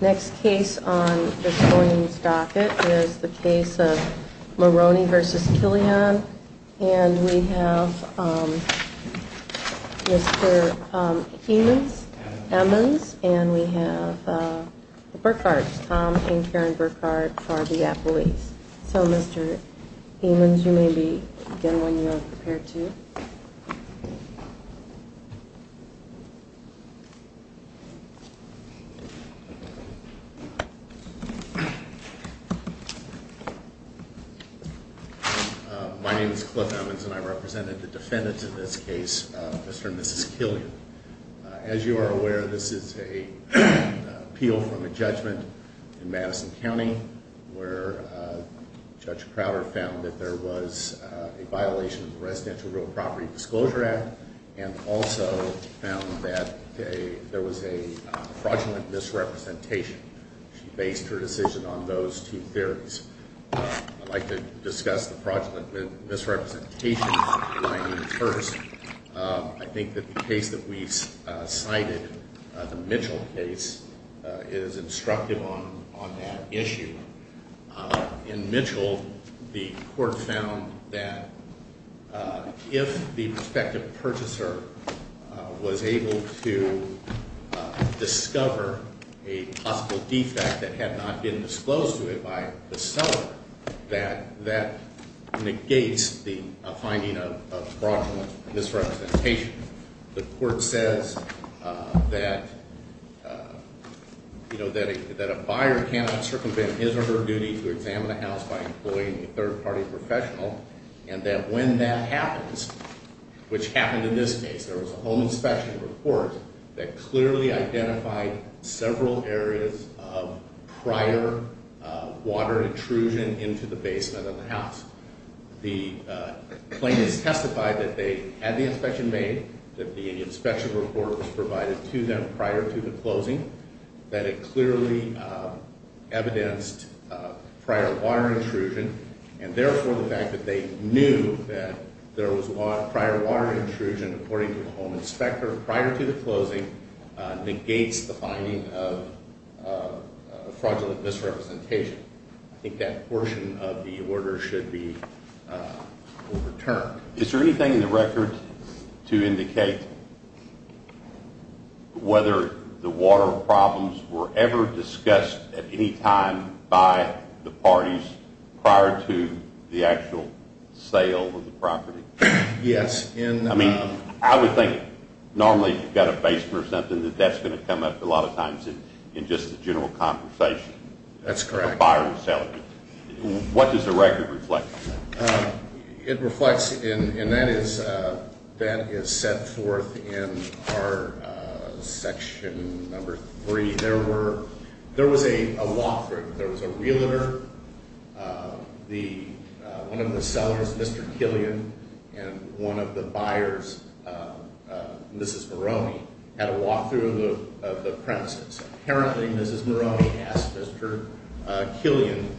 Next case on this morning's docket is the case of Moroni v. Killion. And we have Mr. Eamons and we have Burkhardt. Tom and Karen Burkhardt are the appellees. So Mr. Eamons, you may begin when you are prepared to. My name is Cliff Eamons and I represented the defendants in this case, Mr. and Mrs. Killion. As you are aware, this is an appeal from a judgment in Madison County where Judge Crowder found that there was a violation of the Residential Real Property Disclosure Act and also found that there was a fraudulent misrepresentation. She based her decision on those two theories. I'd like to discuss the fraudulent misrepresentation line first. I think that the case that we cited, the Mitchell case, is instructive on that issue. In Mitchell, the court found that if the respective purchaser was able to discover a possible defect that had not been disclosed to it by the seller, that negates the finding of fraudulent misrepresentation. The court says that a buyer cannot circumvent his or her duty to examine a house by employing a third-party professional and that when that happens, which happened in this case, there was a home inspection report that clearly identified several areas of prior water intrusion into the basement of the house. The claimants testified that they had the inspection made, that the inspection report was provided to them prior to the closing, that it clearly evidenced prior water intrusion, and therefore the fact that they knew that there was prior water intrusion according to the home inspector prior to the closing negates the finding of fraudulent misrepresentation. I think that portion of the order should be overturned. Is there anything in the record to indicate whether the water problems were ever discussed at any time by the parties prior to the actual sale of the property? Yes. I mean, I would think normally if you've got a basement or something that that's going to come up a lot of times in just the general conversation. That's correct. The buyer and seller. What does the record reflect? It reflects, and that is set forth in our section number three. There was a walkthrough. There was a realtor, one of the sellers, Mr. Killian, and one of the buyers, Mrs. Maroney, had a walkthrough of the premises. Apparently, Mrs. Maroney asked Mr. Killian,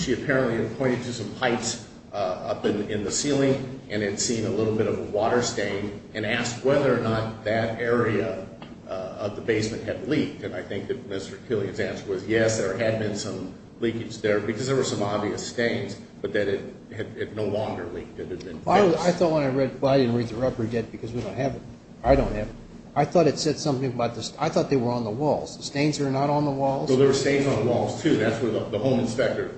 she apparently had pointed to some pipes up in the ceiling and had seen a little bit of a water stain and asked whether or not that area of the basement had leaked, and I think that Mr. Killian's answer was yes, there had been some leakage there because there were some obvious stains, but that it had no longer leaked. I thought when I read, well, I didn't read the report yet because we don't have it. I don't have it. I thought it said something about this. I thought they were on the walls. The stains are not on the walls. So there were stains on the walls, too. That's where the home inspector,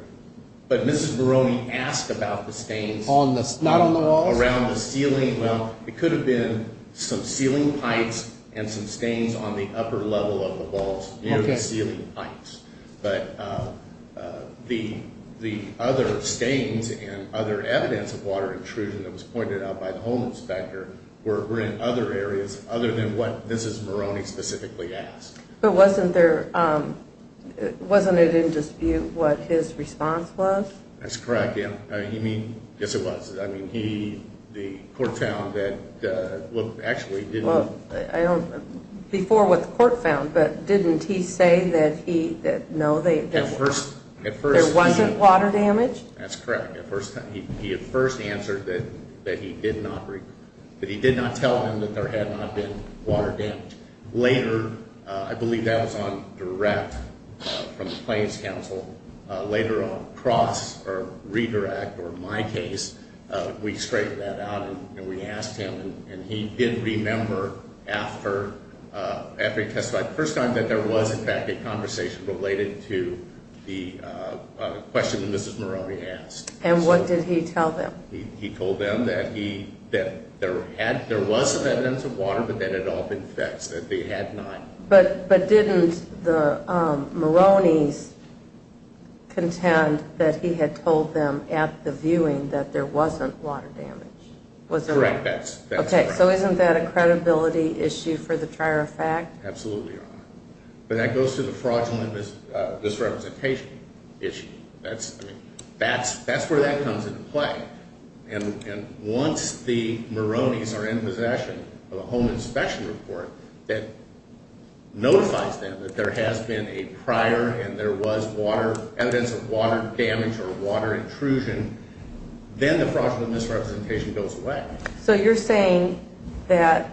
but Mrs. Maroney asked about the stains. Not on the walls? Around the ceiling. Well, it could have been some ceiling pipes and some stains on the upper level of the walls near the ceiling pipes, but the other stains and other evidence of water intrusion that was pointed out by the home inspector were in other areas other than what Mrs. Maroney specifically asked. But wasn't there, wasn't it in dispute what his response was? That's correct, yeah. You mean? Yes, it was. I mean, he, the court found that, well, actually, he didn't. Well, I don't, before what the court found, but didn't he say that he, that no, there wasn't water damage? That's correct. He at first answered that he did not, that he did not tell him that there had not been water damage. Later, I believe that was on direct from the Plains Council, later on cross or redirect or my case, we straightened that out and we asked him, and he didn't remember after he testified the first time that there was, in fact, a conversation related to the question that Mrs. Maroney asked. And what did he tell them? He told them that he, that there had, there was some evidence of water, but that it had all been fixed, that they had not. But didn't the Maroney's contend that he had told them at the viewing that there wasn't water damage? Was there not? Correct, that's correct. Okay, so isn't that a credibility issue for the trier of fact? Absolutely, Your Honor. But that goes to the fraudulent misrepresentation issue. That's where that comes into play. And once the Maroney's are in possession of a home inspection report that notifies them that there has been a prior and there was water, evidence of water damage or water intrusion, then the fraudulent misrepresentation goes away. So you're saying that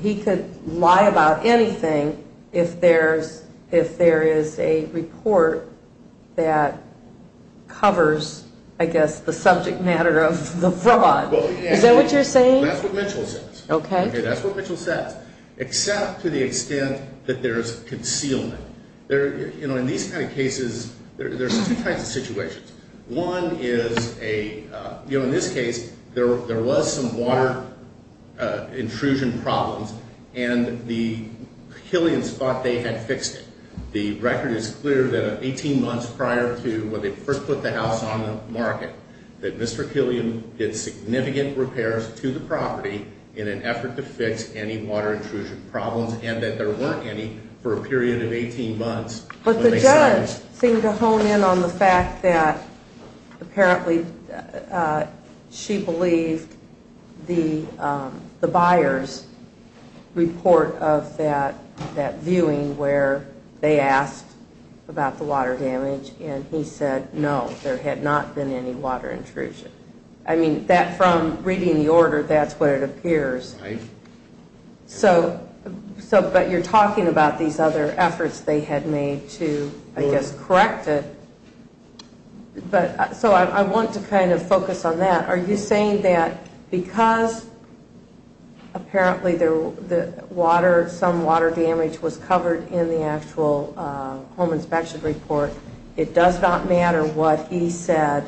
he could lie about anything if there's, if there is a report that covers, I guess, the subject matter of the fraud. Is that what you're saying? That's what Mitchell says. Okay. That's what Mitchell says, except to the extent that there's concealment. There, you know, in these kind of cases, there's two kinds of situations. One is a, you know, in this case, there was some water intrusion problems, and the Killians thought they had fixed it. The record is clear that 18 months prior to when they first put the house on the market, that Mr. Killian did significant repairs to the property in an effort to fix any water intrusion problems, and that there weren't any for a period of 18 months. But the judge seemed to hone in on the fact that apparently she believed the buyer's report of that, that viewing where they asked about the water damage, and he said no, there had not been any water intrusion. I mean, that from reading the order, that's what it appears. Right. But you're talking about these other efforts they had made to, I guess, correct it. So I want to kind of focus on that. Are you saying that because apparently some water damage was covered in the actual home inspection report, it does not matter what he said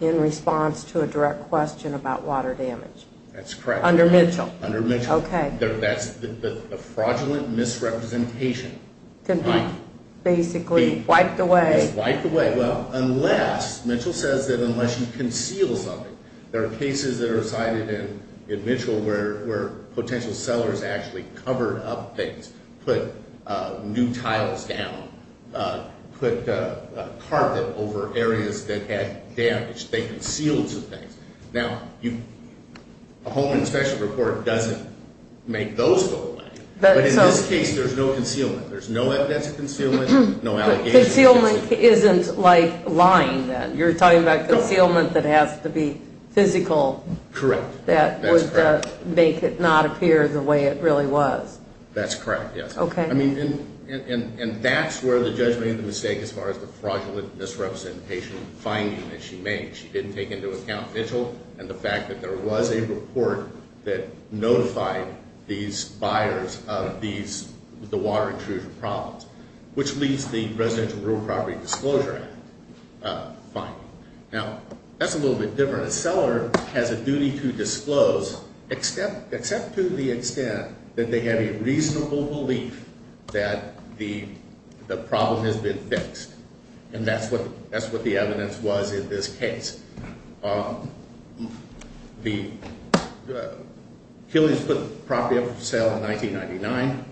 in response to a direct question about water damage? That's correct. Under Mitchell? Under Mitchell. Okay. That's a fraudulent misrepresentation. Can be basically wiped away. Wiped away. Well, unless, Mitchell says that unless you conceal something, there are cases that are cited in Mitchell where potential sellers actually covered up things, put new tiles down, put carpet over areas that had damage. They concealed some things. Now, a home inspection report doesn't make those go away. But in this case, there's no concealment. There's no evidence of concealment, no allegations. Concealment isn't like lying then. You're talking about concealment that has to be physical. Correct. That would make it not appear the way it really was. That's correct, yes. Okay. I mean, and that's where the judge made the mistake as far as the fraudulent misrepresentation finding that she made. She didn't take into account Mitchell and the fact that there was a report that notified these buyers of the water intrusion problems, which leads to the Residential Rural Property Disclosure Act finding. Now, that's a little bit different. A seller has a duty to disclose except to the extent that they have a reasonable belief that the problem has been fixed. And that's what the evidence was in this case. Killian put the property up for sale in 1999.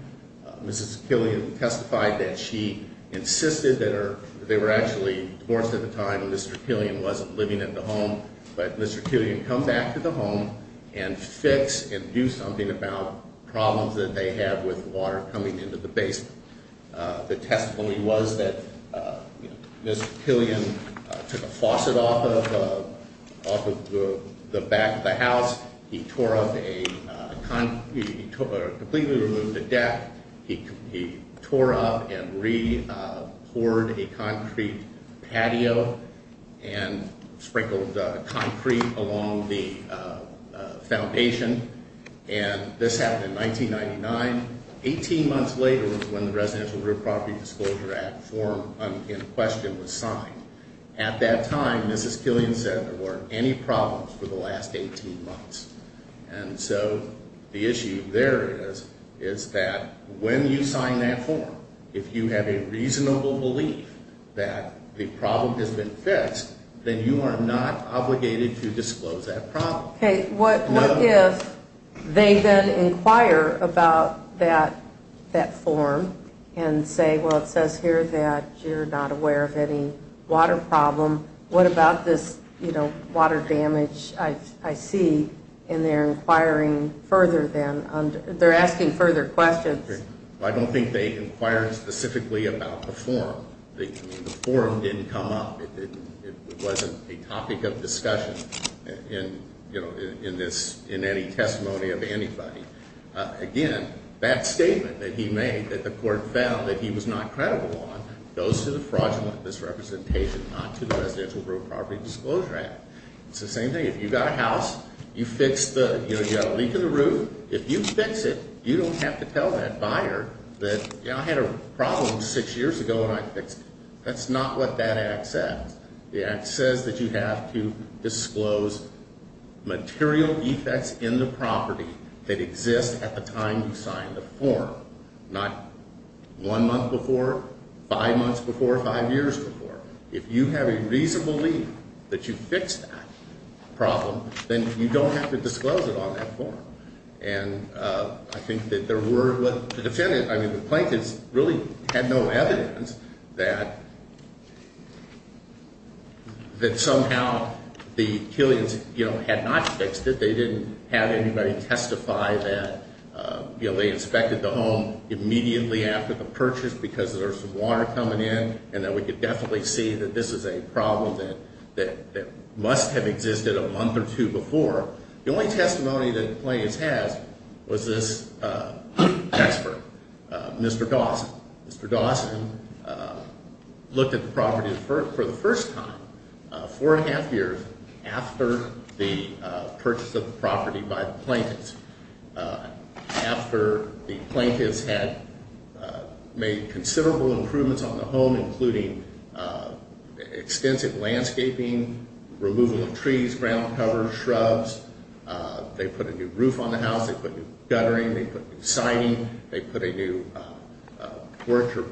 Mrs. Killian testified that she insisted that they were actually divorced at the time. Mr. Killian wasn't living at the home. But Mr. Killian comes back to the home and fix and do something about problems that they have with water coming into the basement. The testimony was that Mr. Killian took a faucet off of the back of the house. He tore up a, he completely removed the deck. He tore up and re-poured a concrete patio and sprinkled concrete along the foundation. And this happened in 1999. Eighteen months later was when the Residential Rural Property Disclosure Act form in question was signed. At that time, Mrs. Killian said there weren't any problems for the last 18 months. And so the issue there is that when you sign that form, if you have a reasonable belief that the problem has been fixed, then you are not obligated to disclose that problem. Okay, what if they then inquire about that form and say, well, it says here that you're not aware of any water problem. What about this, you know, water damage I see? And they're inquiring further than, they're asking further questions. I don't think they inquired specifically about the form. The form didn't come up. It wasn't a topic of discussion. You know, in this, in any testimony of anybody. Again, that statement that he made, that the court found that he was not credible on, goes to the fraudulent misrepresentation, not to the Residential Rural Property Disclosure Act. It's the same thing. If you've got a house, you fix the, you know, you've got a leak in the roof. If you fix it, you don't have to tell that buyer that, you know, I had a problem six years ago and I fixed it. That's not what that act says. The act says that you have to disclose material defects in the property that exist at the time you signed the form. Not one month before, five months before, five years before. If you have a reasonable leak that you fixed that problem, then you don't have to disclose it on that form. And I think that there were, the defendant, I mean, the plaintiffs really had no evidence that somehow the Killians, you know, had not fixed it. They didn't have anybody testify that, you know, they inspected the home immediately after the purchase because there was some water coming in. And that we could definitely see that this is a problem that must have existed a month or two before. The only testimony that the plaintiffs had was this expert, Mr. Dawson. Mr. Dawson looked at the property for the first time, four and a half years after the purchase of the property by the plaintiffs. After the plaintiffs had made considerable improvements on the home, including extensive landscaping, removal of trees, ground cover, shrubs. They put a new roof on the house. They put new guttering. They put new siding. They put a new porch or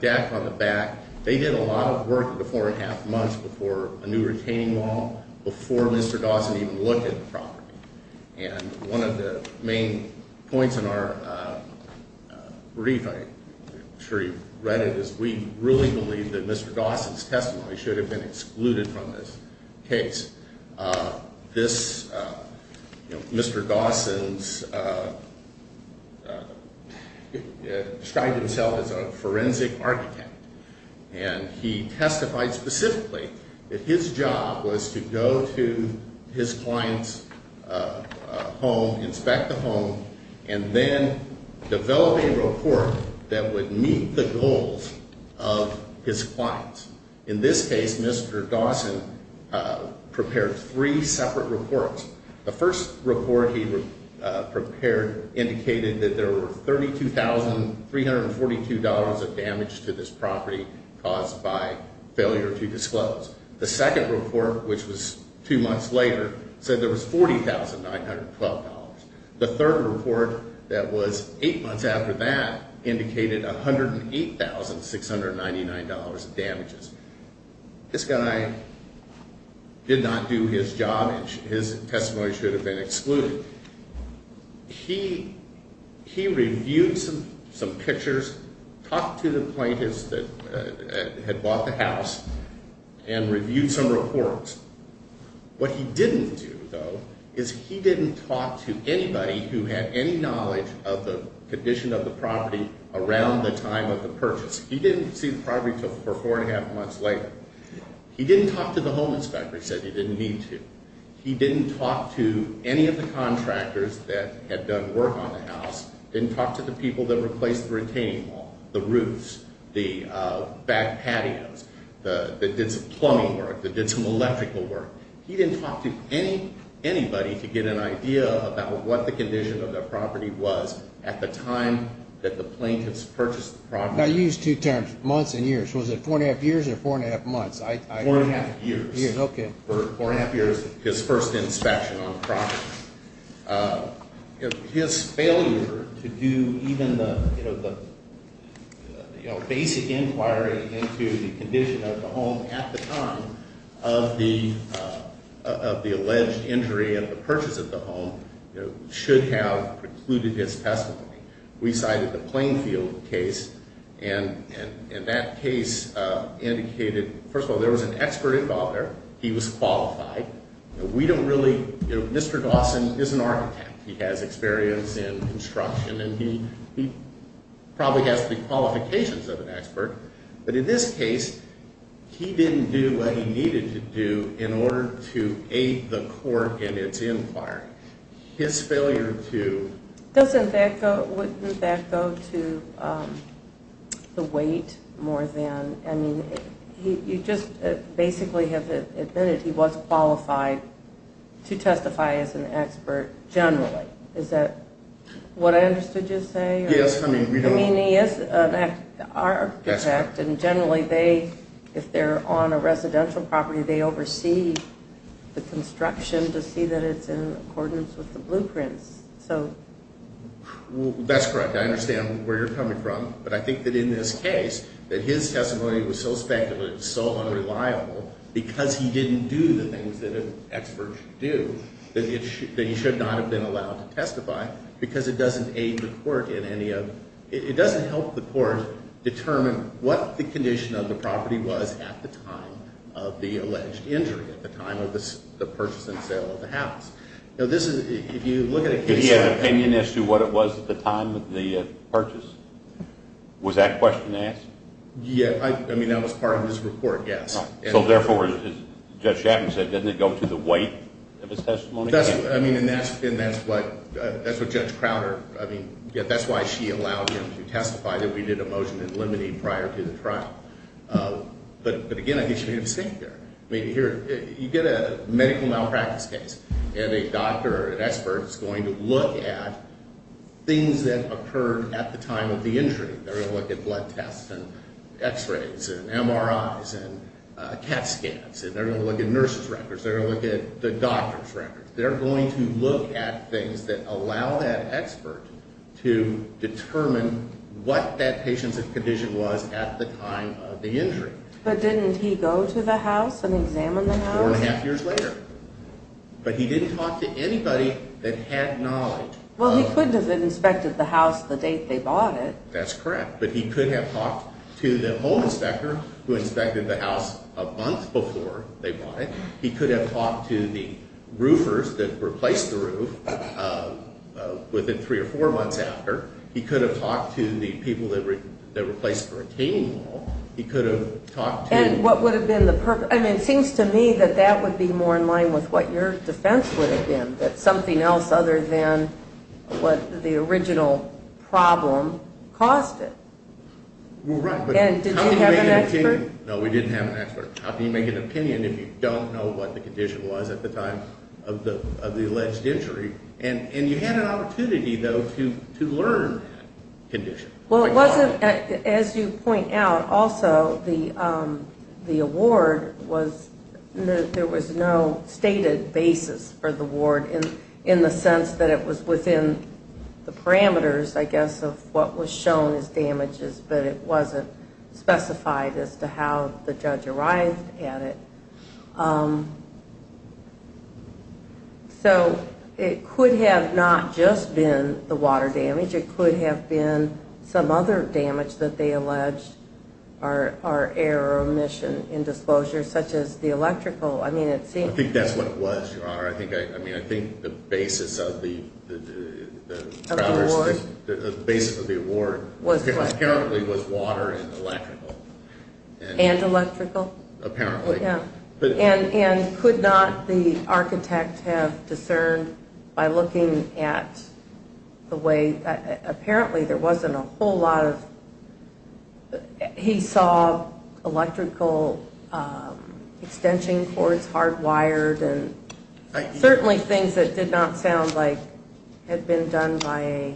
deck on the back. They did a lot of work in the four and a half months before a new retaining wall, before Mr. Dawson even looked at the property. And one of the main points in our brief, I'm sure you've read it, is we really believe that Mr. Dawson's testimony should have been excluded from this case. This, you know, Mr. Dawson's, described himself as a forensic architect. And he testified specifically that his job was to go to his client's home, inspect the home, and then develop a report that would meet the goals of his clients. In this case, Mr. Dawson prepared three separate reports. The first report he prepared indicated that there were $32,342 of damage to this property caused by failure to disclose. The second report, which was two months later, said there was $40,912. The third report that was eight months after that indicated $108,699 of damages. This guy did not do his job, and his testimony should have been excluded. He reviewed some pictures, talked to the plaintiffs that had bought the house, and reviewed some reports. What he didn't do, though, is he didn't talk to anybody who had any knowledge of the condition of the property around the time of the purchase. He didn't see the property for four and a half months later. He didn't talk to the home inspector. He said he didn't need to. He didn't talk to any of the contractors that had done work on the house. Didn't talk to the people that replaced the retaining wall, the roofs, the back patios, that did some plumbing work, that did some electrical work. He didn't talk to anybody to get an idea about what the condition of the property was at the time that the plaintiffs purchased the property. Now, you used two terms, months and years. Was it four and a half years or four and a half months? Four and a half years. Okay. Four and a half years, his first inspection on the property. His failure to do even the basic inquiry into the condition of the home at the time of the alleged injury and the purchase of the home should have precluded his testimony. We cited the Plainfield case and that case indicated, first of all, there was an expert involved there. He was qualified. We don't really, you know, Mr. Dawson is an architect. He has experience in construction and he probably has the qualifications of an expert. But in this case, he didn't do what he needed to do in order to aid the court in its inquiry. His failure to... Doesn't that go to the weight more than, I mean, you just basically have admitted he was qualified to testify as an expert generally. Is that what I understood you to say? Yes. I mean, he is an architect and generally they, if they're on a residential property, they oversee the construction to see that it's in accordance with the blueprints. So... That's correct. I understand where you're coming from. But I think that in this case that his testimony was so speculative, so unreliable because he didn't do the things that an expert should do, that he should not have been allowed to testify because it doesn't aid the court in any of... It doesn't help the court determine what the condition of the property was at the time of the alleged injury, at the time of the purchase and sale of the house. You know, this is, if you look at a case... Did he have an opinion as to what it was at the time of the purchase? Was that question asked? Yeah, I mean, that was part of his report, yes. So therefore, as Judge Chapman said, doesn't it go to the weight of his testimony? That's, I mean, and that's what Judge Crowder, I mean, that's why she allowed him to testify that we did a motion in limine prior to the trial. But again, I think she made a mistake there. You get a medical malpractice case, and a doctor or an expert is going to look at things that occurred at the time of the injury. They're going to look at blood tests and x-rays and MRIs and CAT scans. They're going to look at nurses' records. They're going to look at the doctor's records. They're going to look at things that allow that expert to determine what that patient's condition was at the time of the injury. But didn't he go to the house and examine the house? Four and a half years later. But he didn't talk to anybody that had knowledge. Well, he couldn't have inspected the house the date they bought it. That's correct, but he could have talked to the home inspector who inspected the house a month before they bought it. He could have talked to the roofers that replaced the roof within three or four months after. He could have talked to the people that replaced the retaining wall. And what would have been the purpose? I mean, it seems to me that that would be more in line with what your defense would have been, that something else other than what the original problem caused it. Well, right. And did you have an expert? No, we didn't have an expert. How can you make an opinion if you don't know what the condition was at the time of the alleged injury? And you had an opportunity, though, to learn that condition. Well, it wasn't as you point out. Also, the award was there was no stated basis for the award in the sense that it was within the parameters, I guess, of what was shown as damages, but it wasn't specified as to how the judge arrived at it. So it could have not just been the water damage. It could have been some other damage that they alleged are error or omission in disclosure, such as the electrical. I think that's what it was, Your Honor. I think the basis of the award apparently was water and electrical. And electrical? Apparently. And could not the architect have discerned by looking at the way, apparently there wasn't a whole lot of, he saw electrical extension cords, hardwired, and certainly things that did not sound like had been done by a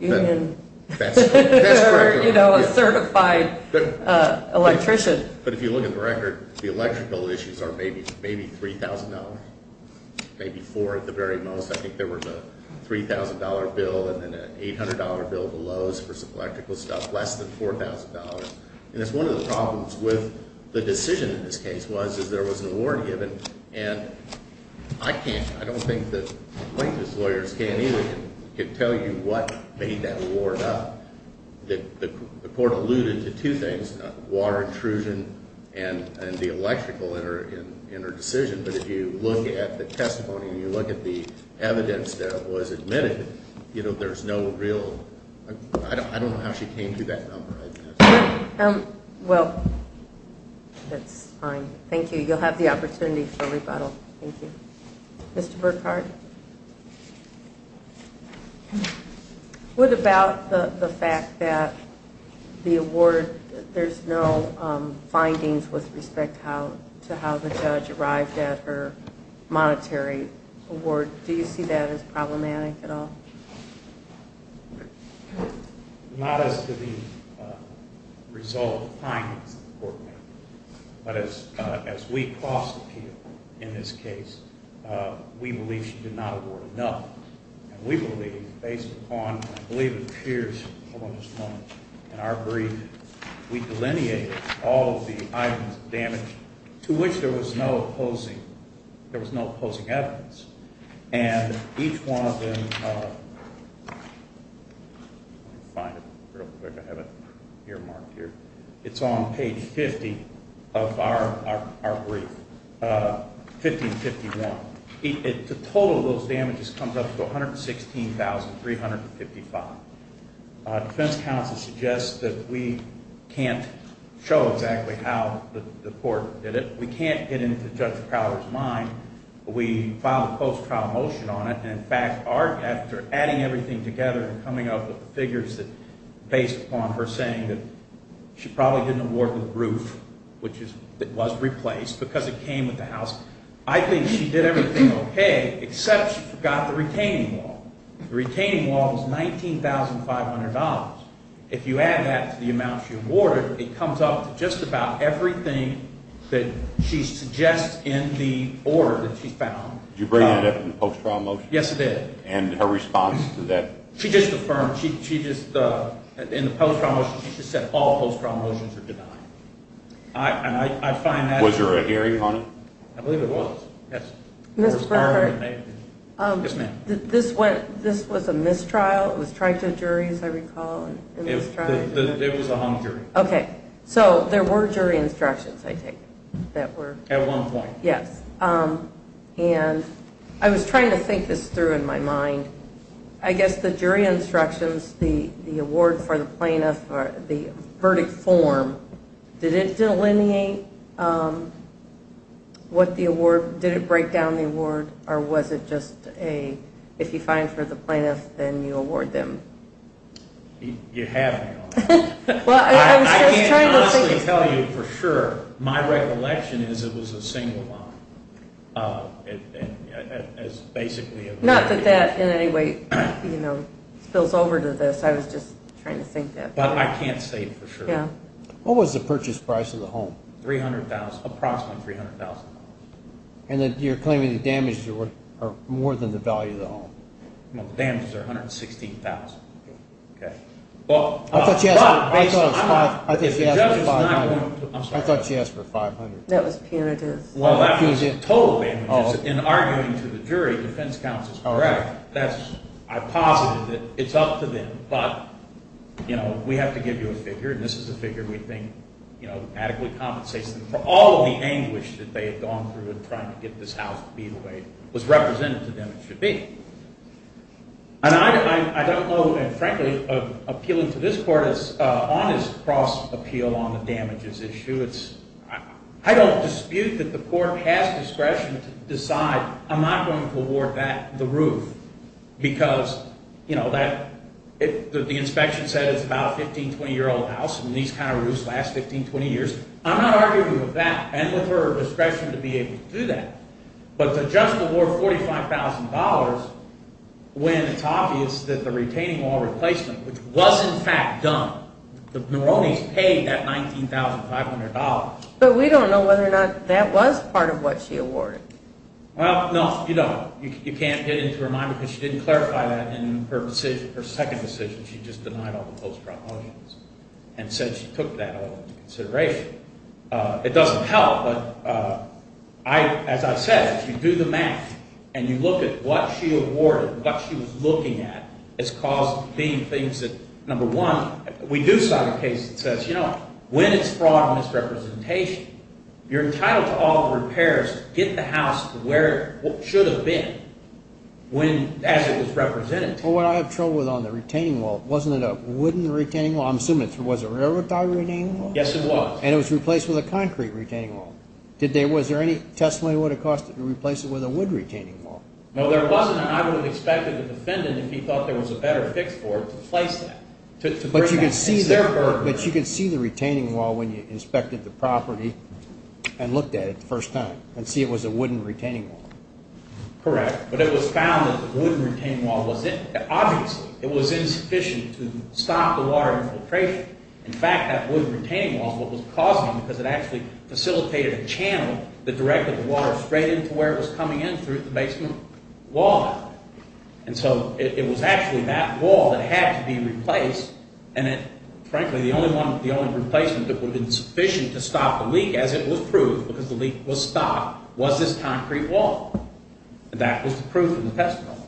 union. That's correct, Your Honor. Or, you know, a certified electrician. But if you look at the record, the electrical issues are maybe $3,000, maybe $4,000 at the very most. I think there was a $3,000 bill and then an $800 bill of the lows for some electrical stuff, less than $4,000. And that's one of the problems with the decision in this case was, is there was an award given. And I can't, I don't think that plaintiff's lawyers can either, can tell you what made that award up. The court alluded to two things, water intrusion and the electrical in her decision. But if you look at the testimony and you look at the evidence that was admitted, you know, there's no real, I don't know how she came to that number. Well, that's fine. Thank you. You'll have the opportunity for rebuttal. Thank you. Mr. Burkhardt? What about the fact that the award, there's no findings with respect to how the judge arrived at her monetary award? Do you see that as problematic at all? Not as to the result of findings that the court made. But as we cross-appeal in this case, we believe she did not award enough. And we believe, based upon, I believe it appears along this moment in our brief, we delineated all of the items of damage to which there was no opposing, there was no opposing evidence. And each one of them, let me find it real quick. I have it earmarked here. It's on page 50 of our brief, 1551. The total of those damages comes up to $116,355. Defense counsel suggests that we can't show exactly how the court did it. We can't get into Judge Crowder's mind. We filed a post-trial motion on it, and in fact, after adding everything together and coming up with the figures based upon her saying that she probably didn't award the roof, which was replaced because it came with the house, I think she did everything okay, except she forgot the retaining wall. The retaining wall was $19,500. If you add that to the amount she awarded, it comes up to just about everything that she suggests in the order that she found. Did you bring that up in the post-trial motion? Yes, I did. And her response to that? She just affirmed. In the post-trial motion, she just said all post-trial motions are denied. Was there a hearing on it? I believe there was. Ms. Brockert? Yes, ma'am. This was a mistrial? It was tried to a jury, as I recall? It was a hung jury. Okay. So there were jury instructions, I take it, that were? At one point. Yes. And I was trying to think this through in my mind. I guess the jury instructions, the award for the plaintiff, the verdict form, did it delineate what the award, did it break down the award, or was it just a, if you find for the plaintiff, then you award them? You have me on that. I can honestly tell you for sure, my recollection is it was a single line. It was basically a- Not that that in any way spills over to this. I was just trying to think that through. But I can't say for sure. What was the purchase price of the home? Approximately $300,000. And you're claiming the damages are more than the value of the home? The damages are $116,000. I thought she asked for $500,000. That was punitive. Total damages. In arguing to the jury, defense counsel's correct. I posited that it's up to them. But, you know, we have to give you a figure, and this is a figure we think adequately compensates them for all of the anguish that they have gone through in trying to get this house to be the way it was represented to them it should be. And I don't know, and frankly, appealing to this court is honest cross-appeal on the damages issue. I don't dispute that the court has discretion to decide I'm not going to award that, the roof, because, you know, the inspection said it's about a 15, 20-year-old house, and these kind of roofs last 15, 20 years. I'm not arguing with that and with her discretion to be able to do that. But to just award $45,000 when it's obvious that the retaining wall replacement, which was in fact done, the Moronis paid that $19,500. But we don't know whether or not that was part of what she awarded. Well, no, you don't. You can't get into her mind because she didn't clarify that in her second decision. She just denied all the post-trial motions and said she took that all into consideration. It doesn't help, but as I said, if you do the math and you look at what she awarded, what she was looking at, it's caused being things that, number one, we do sign a case that says, you know what, when it's fraud and misrepresentation, you're entitled to all the repairs to get the house to where it should have been as it was represented to you. Well, what I have trouble with on the retaining wall, wasn't it a wooden retaining wall? I'm assuming it was a railroad tie retaining wall. Yes, it was. And it was replaced with a concrete retaining wall. Was there any testimony that would have cost it to replace it with a wood retaining wall? No, there wasn't, and I would have expected the defendant, if he thought there was a better fix for it, to replace that. But you can see the retaining wall when you inspected the property and looked at it the first time and see it was a wooden retaining wall. Correct, but it was found that the wooden retaining wall, obviously it was insufficient to stop the water infiltration. In fact, that wooden retaining wall is what was causing it because it actually facilitated a channel that directed the water straight into where it was coming in through the basement wall. And so it was actually that wall that had to be replaced, and frankly the only replacement that would have been sufficient to stop the leak, as it was proved, because the leak was stopped, was this concrete wall. And that was the proof in the testimony.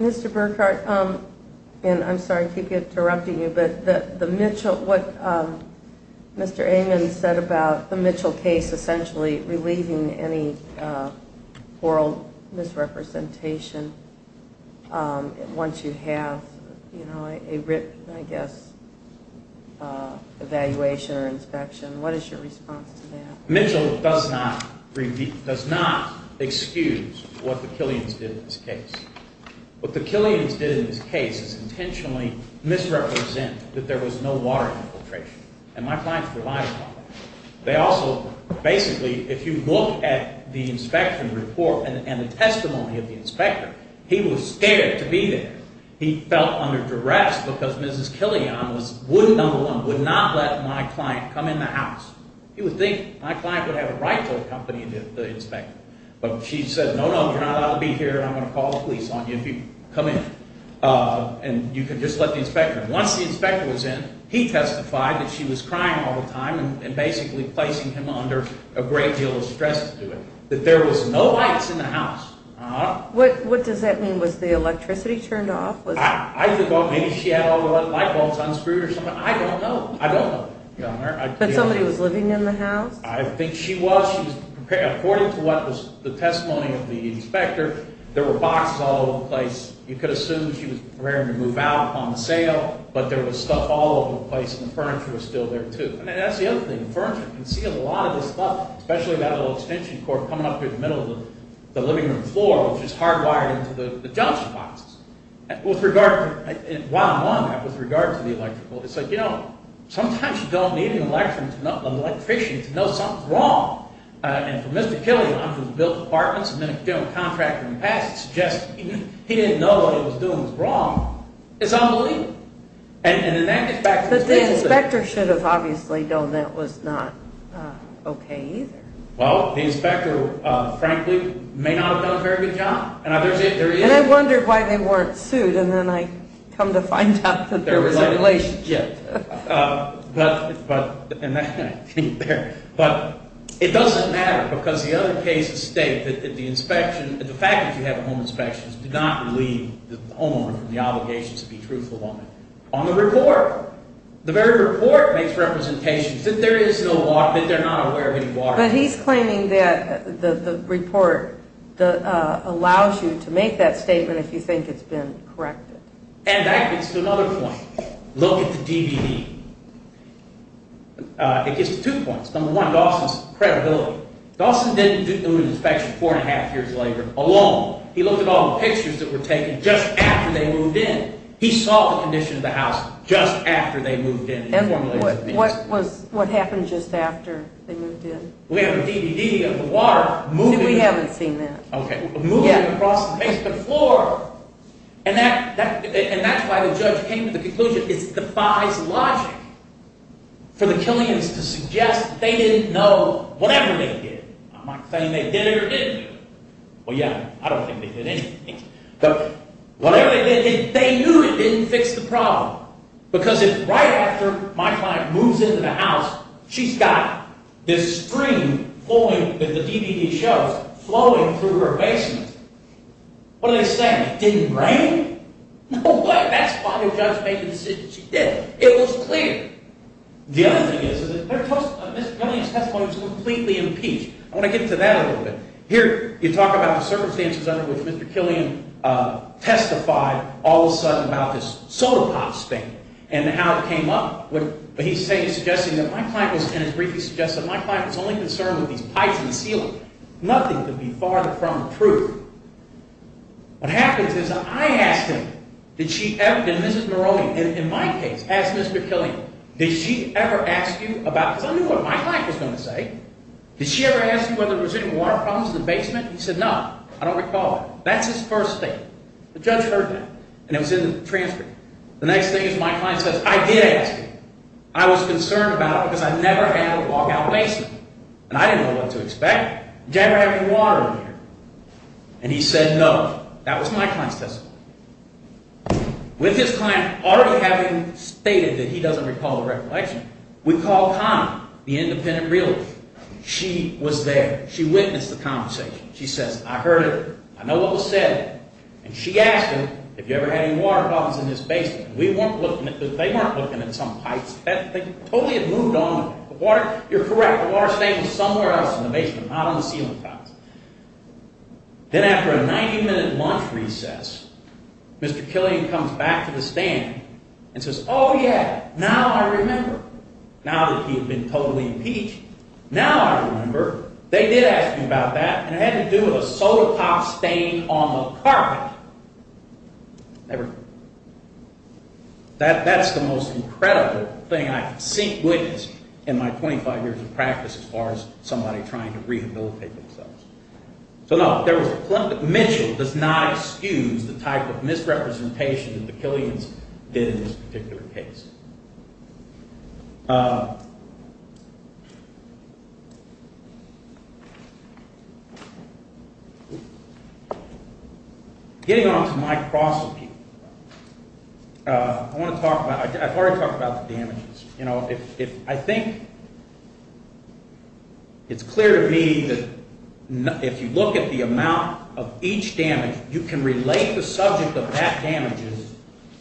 Mr. Burkhart, and I'm sorry to keep interrupting you, but what Mr. Amon said about the Mitchell case essentially relieving any oral misrepresentation once you have a written, I guess, evaluation or inspection. What is your response to that? Mitchell does not excuse what the Killians did in this case. What the Killians did in this case is intentionally misrepresent that there was no water infiltration, and my clients relied on that. They also basically, if you look at the inspection report and the testimony of the inspector, he was scared to be there. He felt under duress because Mrs. Killian, number one, would not let my client come in the house. He would think my client would have a right to accompany the inspector. But she said, no, no, you're not allowed to be here, and I'm going to call the police on you if you come in, and you can just let the inspector in. Once the inspector was in, he testified that she was crying all the time and basically placing him under a great deal of stress to do it, that there was no lights in the house. What does that mean? Was the electricity turned off? I think maybe she had all the light bulbs unscrewed or something. I don't know. I don't know. But somebody was living in the house? I think she was. According to what was the testimony of the inspector, there were boxes all over the place. You could assume she was preparing to move out upon the sale, but there was stuff all over the place, and the furniture was still there too. And that's the other thing. The furniture can conceal a lot of this stuff, especially that little extension cord coming up through the middle of the living room floor, which is hardwired into the junction boxes. With regard to the electrical, it's like, you know, sometimes you don't need an electrician to know something's wrong. And for Mr. Killian, who has built apartments and been a general contractor in the past, it's just he didn't know what he was doing was wrong. It's unbelievable. But the inspector should have obviously known that was not okay either. Well, the inspector, frankly, may not have done a very good job. And I wondered why they weren't sued, and then I come to find out that there was a relationship. But it doesn't matter, because the other cases state that the inspection, the fact that you have a home inspection does not relieve the homeowner from the obligation to be truthful on the report. The very report makes representations that there is no water, that they're not aware of any water. But he's claiming that the report allows you to make that statement if you think it's been corrected. And that gets to another point. Look at the DVD. It gets to two points. Number one, Dawson's credibility. Dawson didn't do an inspection four and a half years later alone. He looked at all the pictures that were taken just after they moved in. He saw the condition of the house just after they moved in. And what happened just after they moved in? We have a DVD of the water moving across the basement floor. And that's why the judge came to the conclusion it defies logic for the Killians to suggest they didn't know whatever they did. I'm not saying they did it or didn't do it. Well, yeah, I don't think they did anything. But whatever they did, they knew it didn't fix the problem. Because right after my client moves into the house, she's got this stream flowing with the DVD shows, flowing through her basement. What do they say? It didn't rain? No way. That's why the judge made the decision she did. It was clear. The other thing is that Mr. Killian's testimony was completely impeached. I want to get into that a little bit. Here you talk about the circumstances under which Mr. Killian testified all of a sudden about this soda pops thing and how it came up. But he's suggesting that my client was only concerned with these pipes in the ceiling. Nothing could be farther from the truth. What happens is I ask him, and this is Moroni, in my case, ask Mr. Killian, did she ever ask you about this? I knew what my client was going to say. Did she ever ask you whether there was any water problems in the basement? He said no. I don't recall it. That's his first statement. The judge heard that, and it was in the transcript. The next thing is my client says, I did ask you. I was concerned about it because I never had a walkout basement. And I didn't know what to expect. Did you ever have any water in here? And he said no. That was my client's testimony. With his client already having stated that he doesn't recall the recollection, we called Connie, the independent realtor. She was there. She witnessed the conversation. She says, I heard it. I know what was said. And she asked him if you ever had any water problems in this basement. They weren't looking at some pipes. They totally had moved on. You're correct, the water stain was somewhere else in the basement, not on the ceiling tiles. Then after a 90-minute lunch recess, Mr. Killian comes back to the stand and says, oh, yeah, now I remember. Now that he had been totally impeached, now I remember. They did ask me about that, and it had to do with a soda pop stain on the carpet. Never. That's the most incredible thing I've seen witnessed in my 25 years of practice as far as somebody trying to rehabilitate themselves. So, no, Mitchell does not excuse the type of misrepresentation that the Killians did in this particular case. Getting on to my prosecution, I want to talk about the damages. I think it's clear to me that if you look at the amount of each damage, you can relate the subject of that damage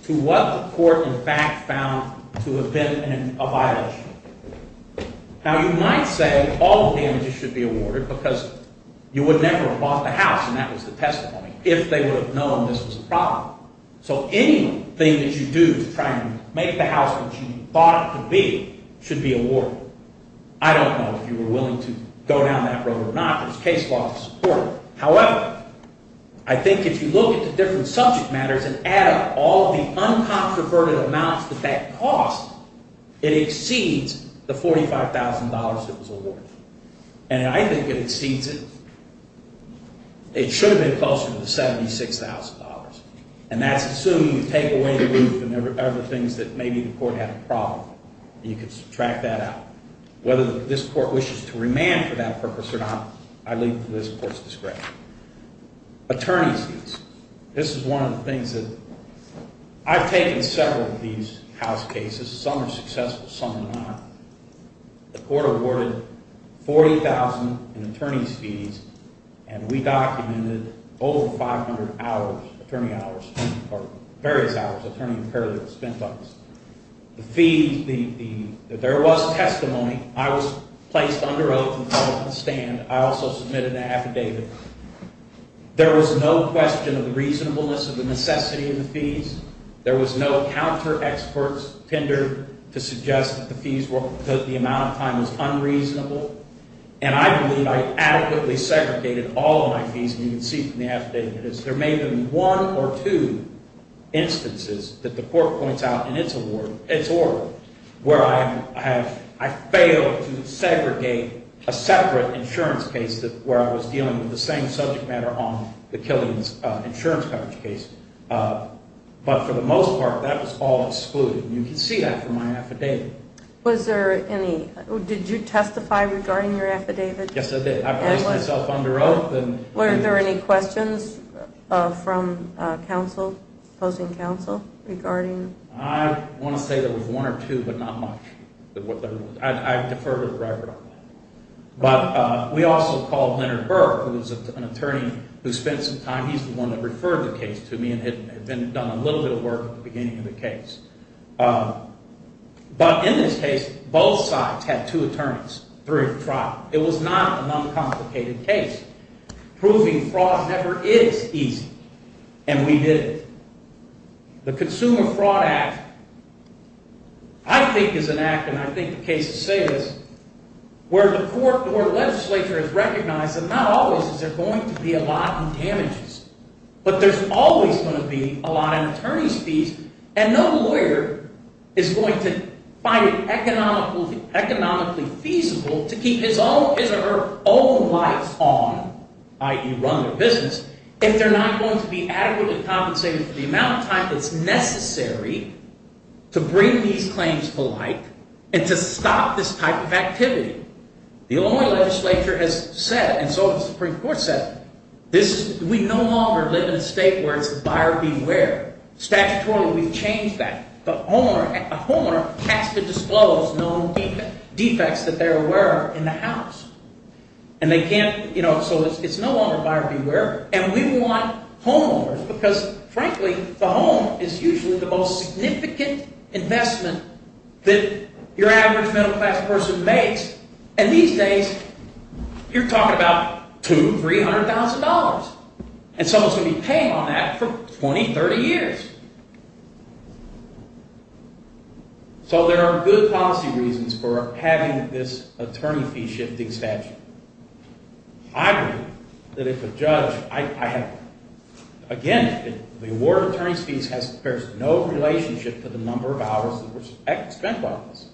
to what the court in fact found to have been a violation. Now, you might say all the damages should be awarded because you would never have bought the house, and that was the testimony, if they would have known this was a problem. So anything that you do to try and make the house what you thought it could be should be awarded. I don't know if you were willing to go down that road or not. There's case law to support it. However, I think if you look at the different subject matters and add up all the uncontroverted amounts that that cost, it exceeds the $45,000 that was awarded. And I think it exceeds it. It should have been closer to the $76,000. And that's assuming you take away the roof and other things that maybe the court had a problem with. You can track that out. Whether this court wishes to remand for that purpose or not, I leave to this court's discretion. Attorney's fees. This is one of the things that I've taken several of these house cases. Some are successful, some are not. The court awarded 40,000 in attorney's fees, and we documented over 500 hours, attorney hours, or various hours, attorney and paralegal spend bucks. The fees, there was testimony. I was placed under oath and called to stand. I also submitted an affidavit. There was no question of reasonableness of the necessity of the fees. There was no counter-experts tendered to suggest that the fees were because the amount of time was unreasonable. And I believe I adequately segregated all of my fees, and you can see from the affidavit, is there may have been one or two instances that the court points out in its award, its order, where I have, I failed to segregate a separate insurance case where I was dealing with the same subject matter on the Killian's insurance coverage case. But for the most part, that was all excluded, and you can see that from my affidavit. Was there any, did you testify regarding your affidavit? Yes, I did. I placed myself under oath. Were there any questions from counsel, opposing counsel, regarding? I want to say there was one or two, but not much. I defer to the record on that. But we also called Leonard Burke, who was an attorney who spent some time. He's the one that referred the case to me and had done a little bit of work at the beginning of the case. But in this case, both sides had two attorneys during the trial. It was not an uncomplicated case. Proving fraud never is easy, and we did it. The Consumer Fraud Act, I think, is an act, and I think the case to say this, where the court or legislature has recognized that not always is there going to be a lot in damages, but there's always going to be a lot in attorney's fees, and no lawyer is going to find it economically feasible to keep his or her own life on, i.e. run their business, if they're not going to be adequately compensated for the amount of time that's necessary to bring these claims to light and to stop this type of activity. The Illinois legislature has said, and so has the Supreme Court said, we no longer live in a state where it's buyer beware. Statutorily, we've changed that. A homeowner has to disclose known defects that they're aware of in the house. So it's no longer buyer beware, and we want homeowners, because, frankly, the home is usually the most significant investment that your average middle-class person makes, and these days you're talking about $200,000, $300,000, and someone's going to be paying on that for 20, 30 years. So there are good policy reasons for having this attorney fee shifting statute. I agree that if a judge, I have, again, the award of attorney's fees bears no relationship to the number of hours that were spent by this.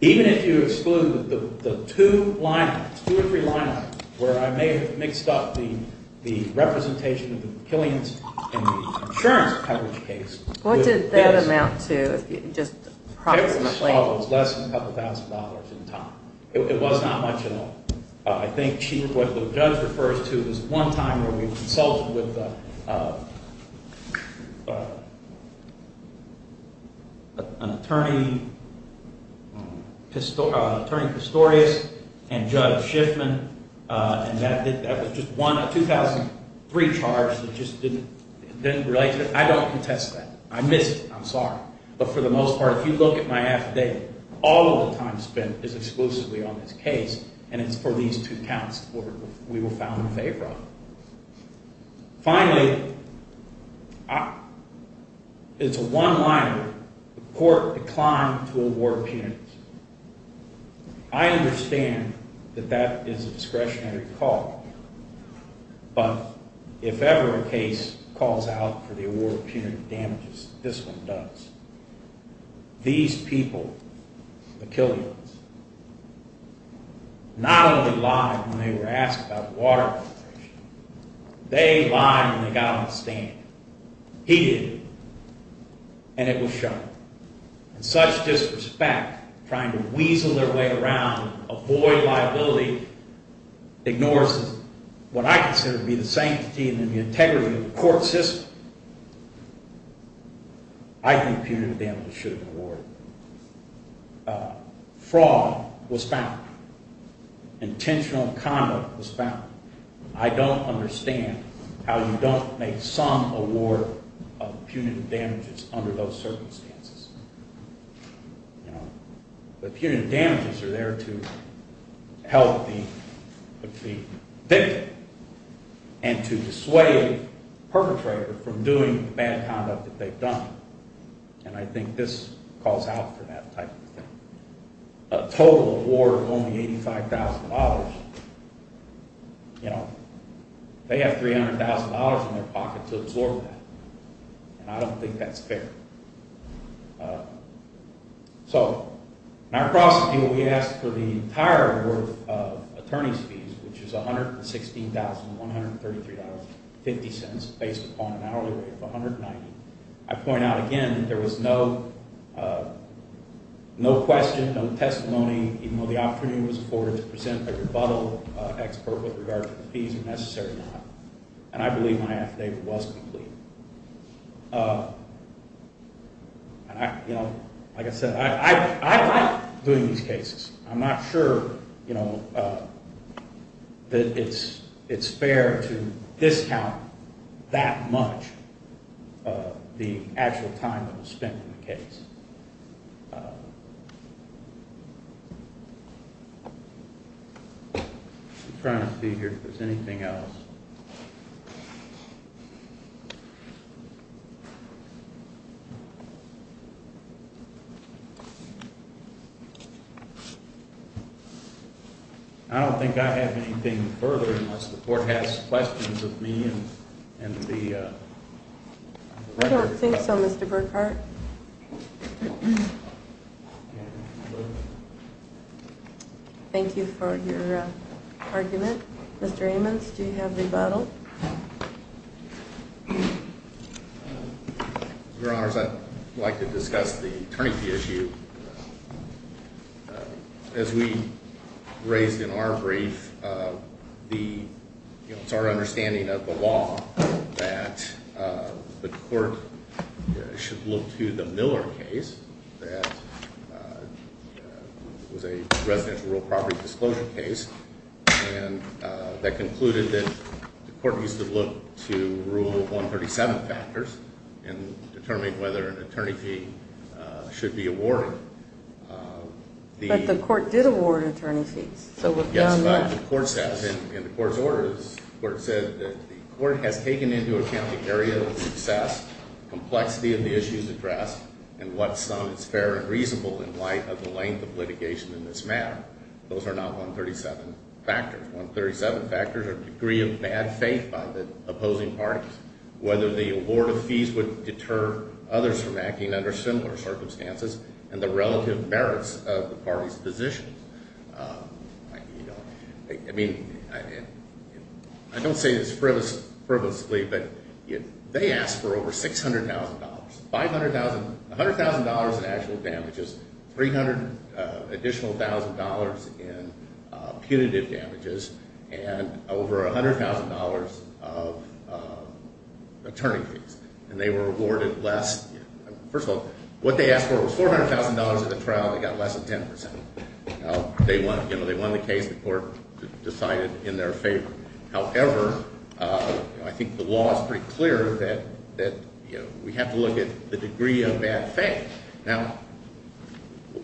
Even if you exclude the two lineups, two or three lineups, where I may have mixed up the representation of the killings and the insurance coverage case. What did that amount to, just approximately? It was less than a couple thousand dollars in time. It was not much at all. I think what the judge refers to is one time where we consulted with an attorney, an attorney custodian, and Judge Shiffman, and that was just one 2003 charge that just didn't relate to it. I don't contest that. I missed it. I'm sorry. But for the most part, if you look at my affidavit, all of the time spent is exclusively on this case, and it's for these two counts we were found in favor of. Finally, it's a one-liner. The court declined to award punitives. I understand that that is a discretionary call, but if ever a case calls out for the award of punitive damages, this one does. These people, the killings, not only lied when they were asked about water, they lied when they got on the stand. He did, and it was shown. And such disrespect, trying to weasel their way around, avoid liability, ignores what I consider to be the sanctity and the integrity of the court system. I think punitive damages should have been awarded. Fraud was found. Intentional conduct was found. I don't understand how you don't make some award of punitive damages under those circumstances. Punitive damages are there to help the victim and to dissuade the perpetrator from doing bad conduct that they've done, and I think this calls out for that type of thing. A total award of only $85,000, they have $300,000 in their pocket to absorb that, and I don't think that's fair. So in our process, we asked for the entire award of attorney's fees, which is $116,133.50 based upon an hourly rate of $190. I point out again that there was no question, no testimony, even though the opportunity was afforded to present a rebuttal expert with regard to the fees when necessary or not, and I believe my affidavit was complete. And, you know, like I said, I'm not doing these cases. I'm not sure, you know, that it's fair to discount that much the actual time that was spent in the case. I'm trying to figure if there's anything else. I don't think I have anything further unless the court has questions of me and the... I don't think so, Mr. Burkhart. Thank you for your argument. Mr. Ammons, do you have rebuttal? Your Honors, I'd like to discuss the attorney fee issue. As we raised in our brief, it's our understanding of the law that the court should look to the Miller case that was a residential real property disclosure case and that concluded that the court needs to look to rule 137 factors and determine whether an attorney fee should be awarded. But the court did award attorney fees. Yes, but the court says in the court's orders, the court said that the court has taken into account the area of success, complexity of the issues addressed, and what's fair and reasonable in light of the length of litigation in this matter. Those are not 137 factors. 137 factors are degree of bad faith by the opposing parties, whether the award of fees would deter others from acting under similar circumstances, and the relative merits of the parties' positions. I don't say this frivolously, but they asked for over $600,000, $100,000 in actual damages, $300,000 additional in punitive damages, and over $100,000 of attorney fees. And they were awarded less. First of all, what they asked for was $400,000 in the trial, and they got less than 10%. They won the case. The court decided in their favor. However, I think the law is pretty clear that we have to look at the degree of bad faith. Now,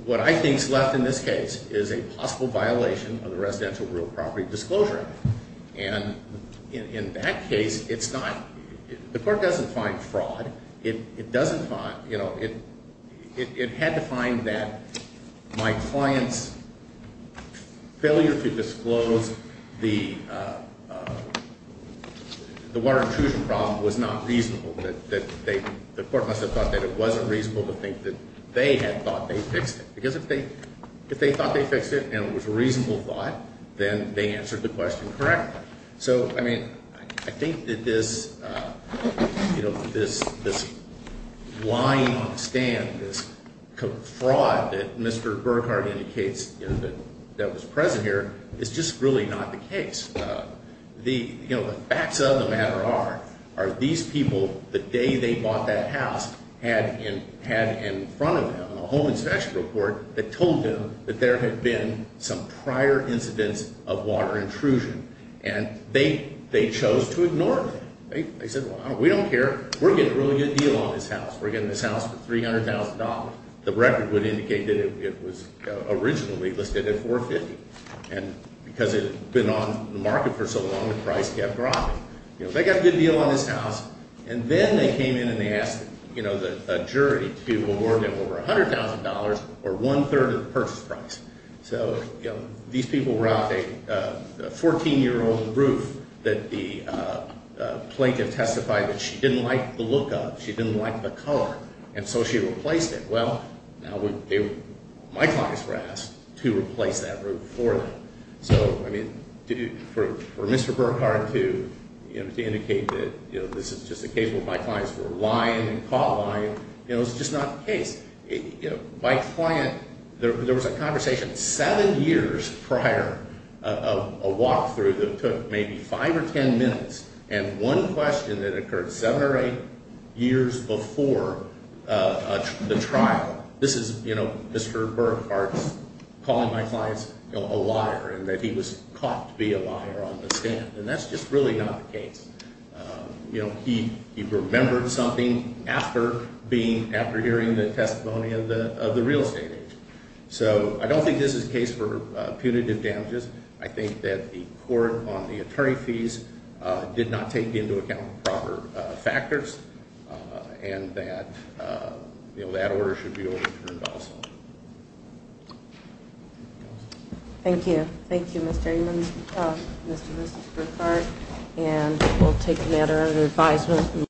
what I think is left in this case is a possible violation of the residential real property disclosure. And in that case, it's not. The court doesn't find fraud. It doesn't find, you know, it had to find that my client's failure to disclose the water intrusion problem was not reasonable. The court must have thought that it wasn't reasonable to think that they had thought they fixed it. Because if they thought they fixed it and it was a reasonable thought, then they answered the question correctly. So, I mean, I think that this, you know, this lying stand, this fraud that Mr. Burkhardt indicates that was present here is just really not the case. You know, the facts of the matter are these people, the day they bought that house, had in front of them a home inspection report that told them that there had been some prior incidents of water intrusion. And they chose to ignore it. They said, well, we don't care. We're getting a really good deal on this house. We're getting this house for $300,000. The record would indicate that it was originally listed at $450,000. And because it had been on the market for so long, the price kept dropping. You know, they got a good deal on this house. And then they came in and they asked, you know, the jury to award them over $100,000 or one-third of the purchase price. So, you know, these people were out a 14-year-old roof that the plaintiff testified that she didn't like the look of. She didn't like the color. And so she replaced it. Well, now my clients were asked to replace that roof for them. So, I mean, for Mr. Burkhardt to indicate that, you know, this is just a case where my clients were lying and caught lying, you know, it's just not the case. You know, my client, there was a conversation seven years prior of a walk-through that took maybe five or ten minutes, and one question that occurred seven or eight years before the trial. This is, you know, Mr. Burkhardt calling my clients a liar and that he was caught to be a liar on the stand. And that's just really not the case. You know, he remembered something after hearing the testimony of the real estate agent. So I don't think this is a case for punitive damages. I think that the court on the attorney fees did not take into account proper factors, and that, you know, that order should be overturned also. Thank you. Thank you, Mr. Raymond, Mr. Burkhardt. And we'll take the matter under advisement.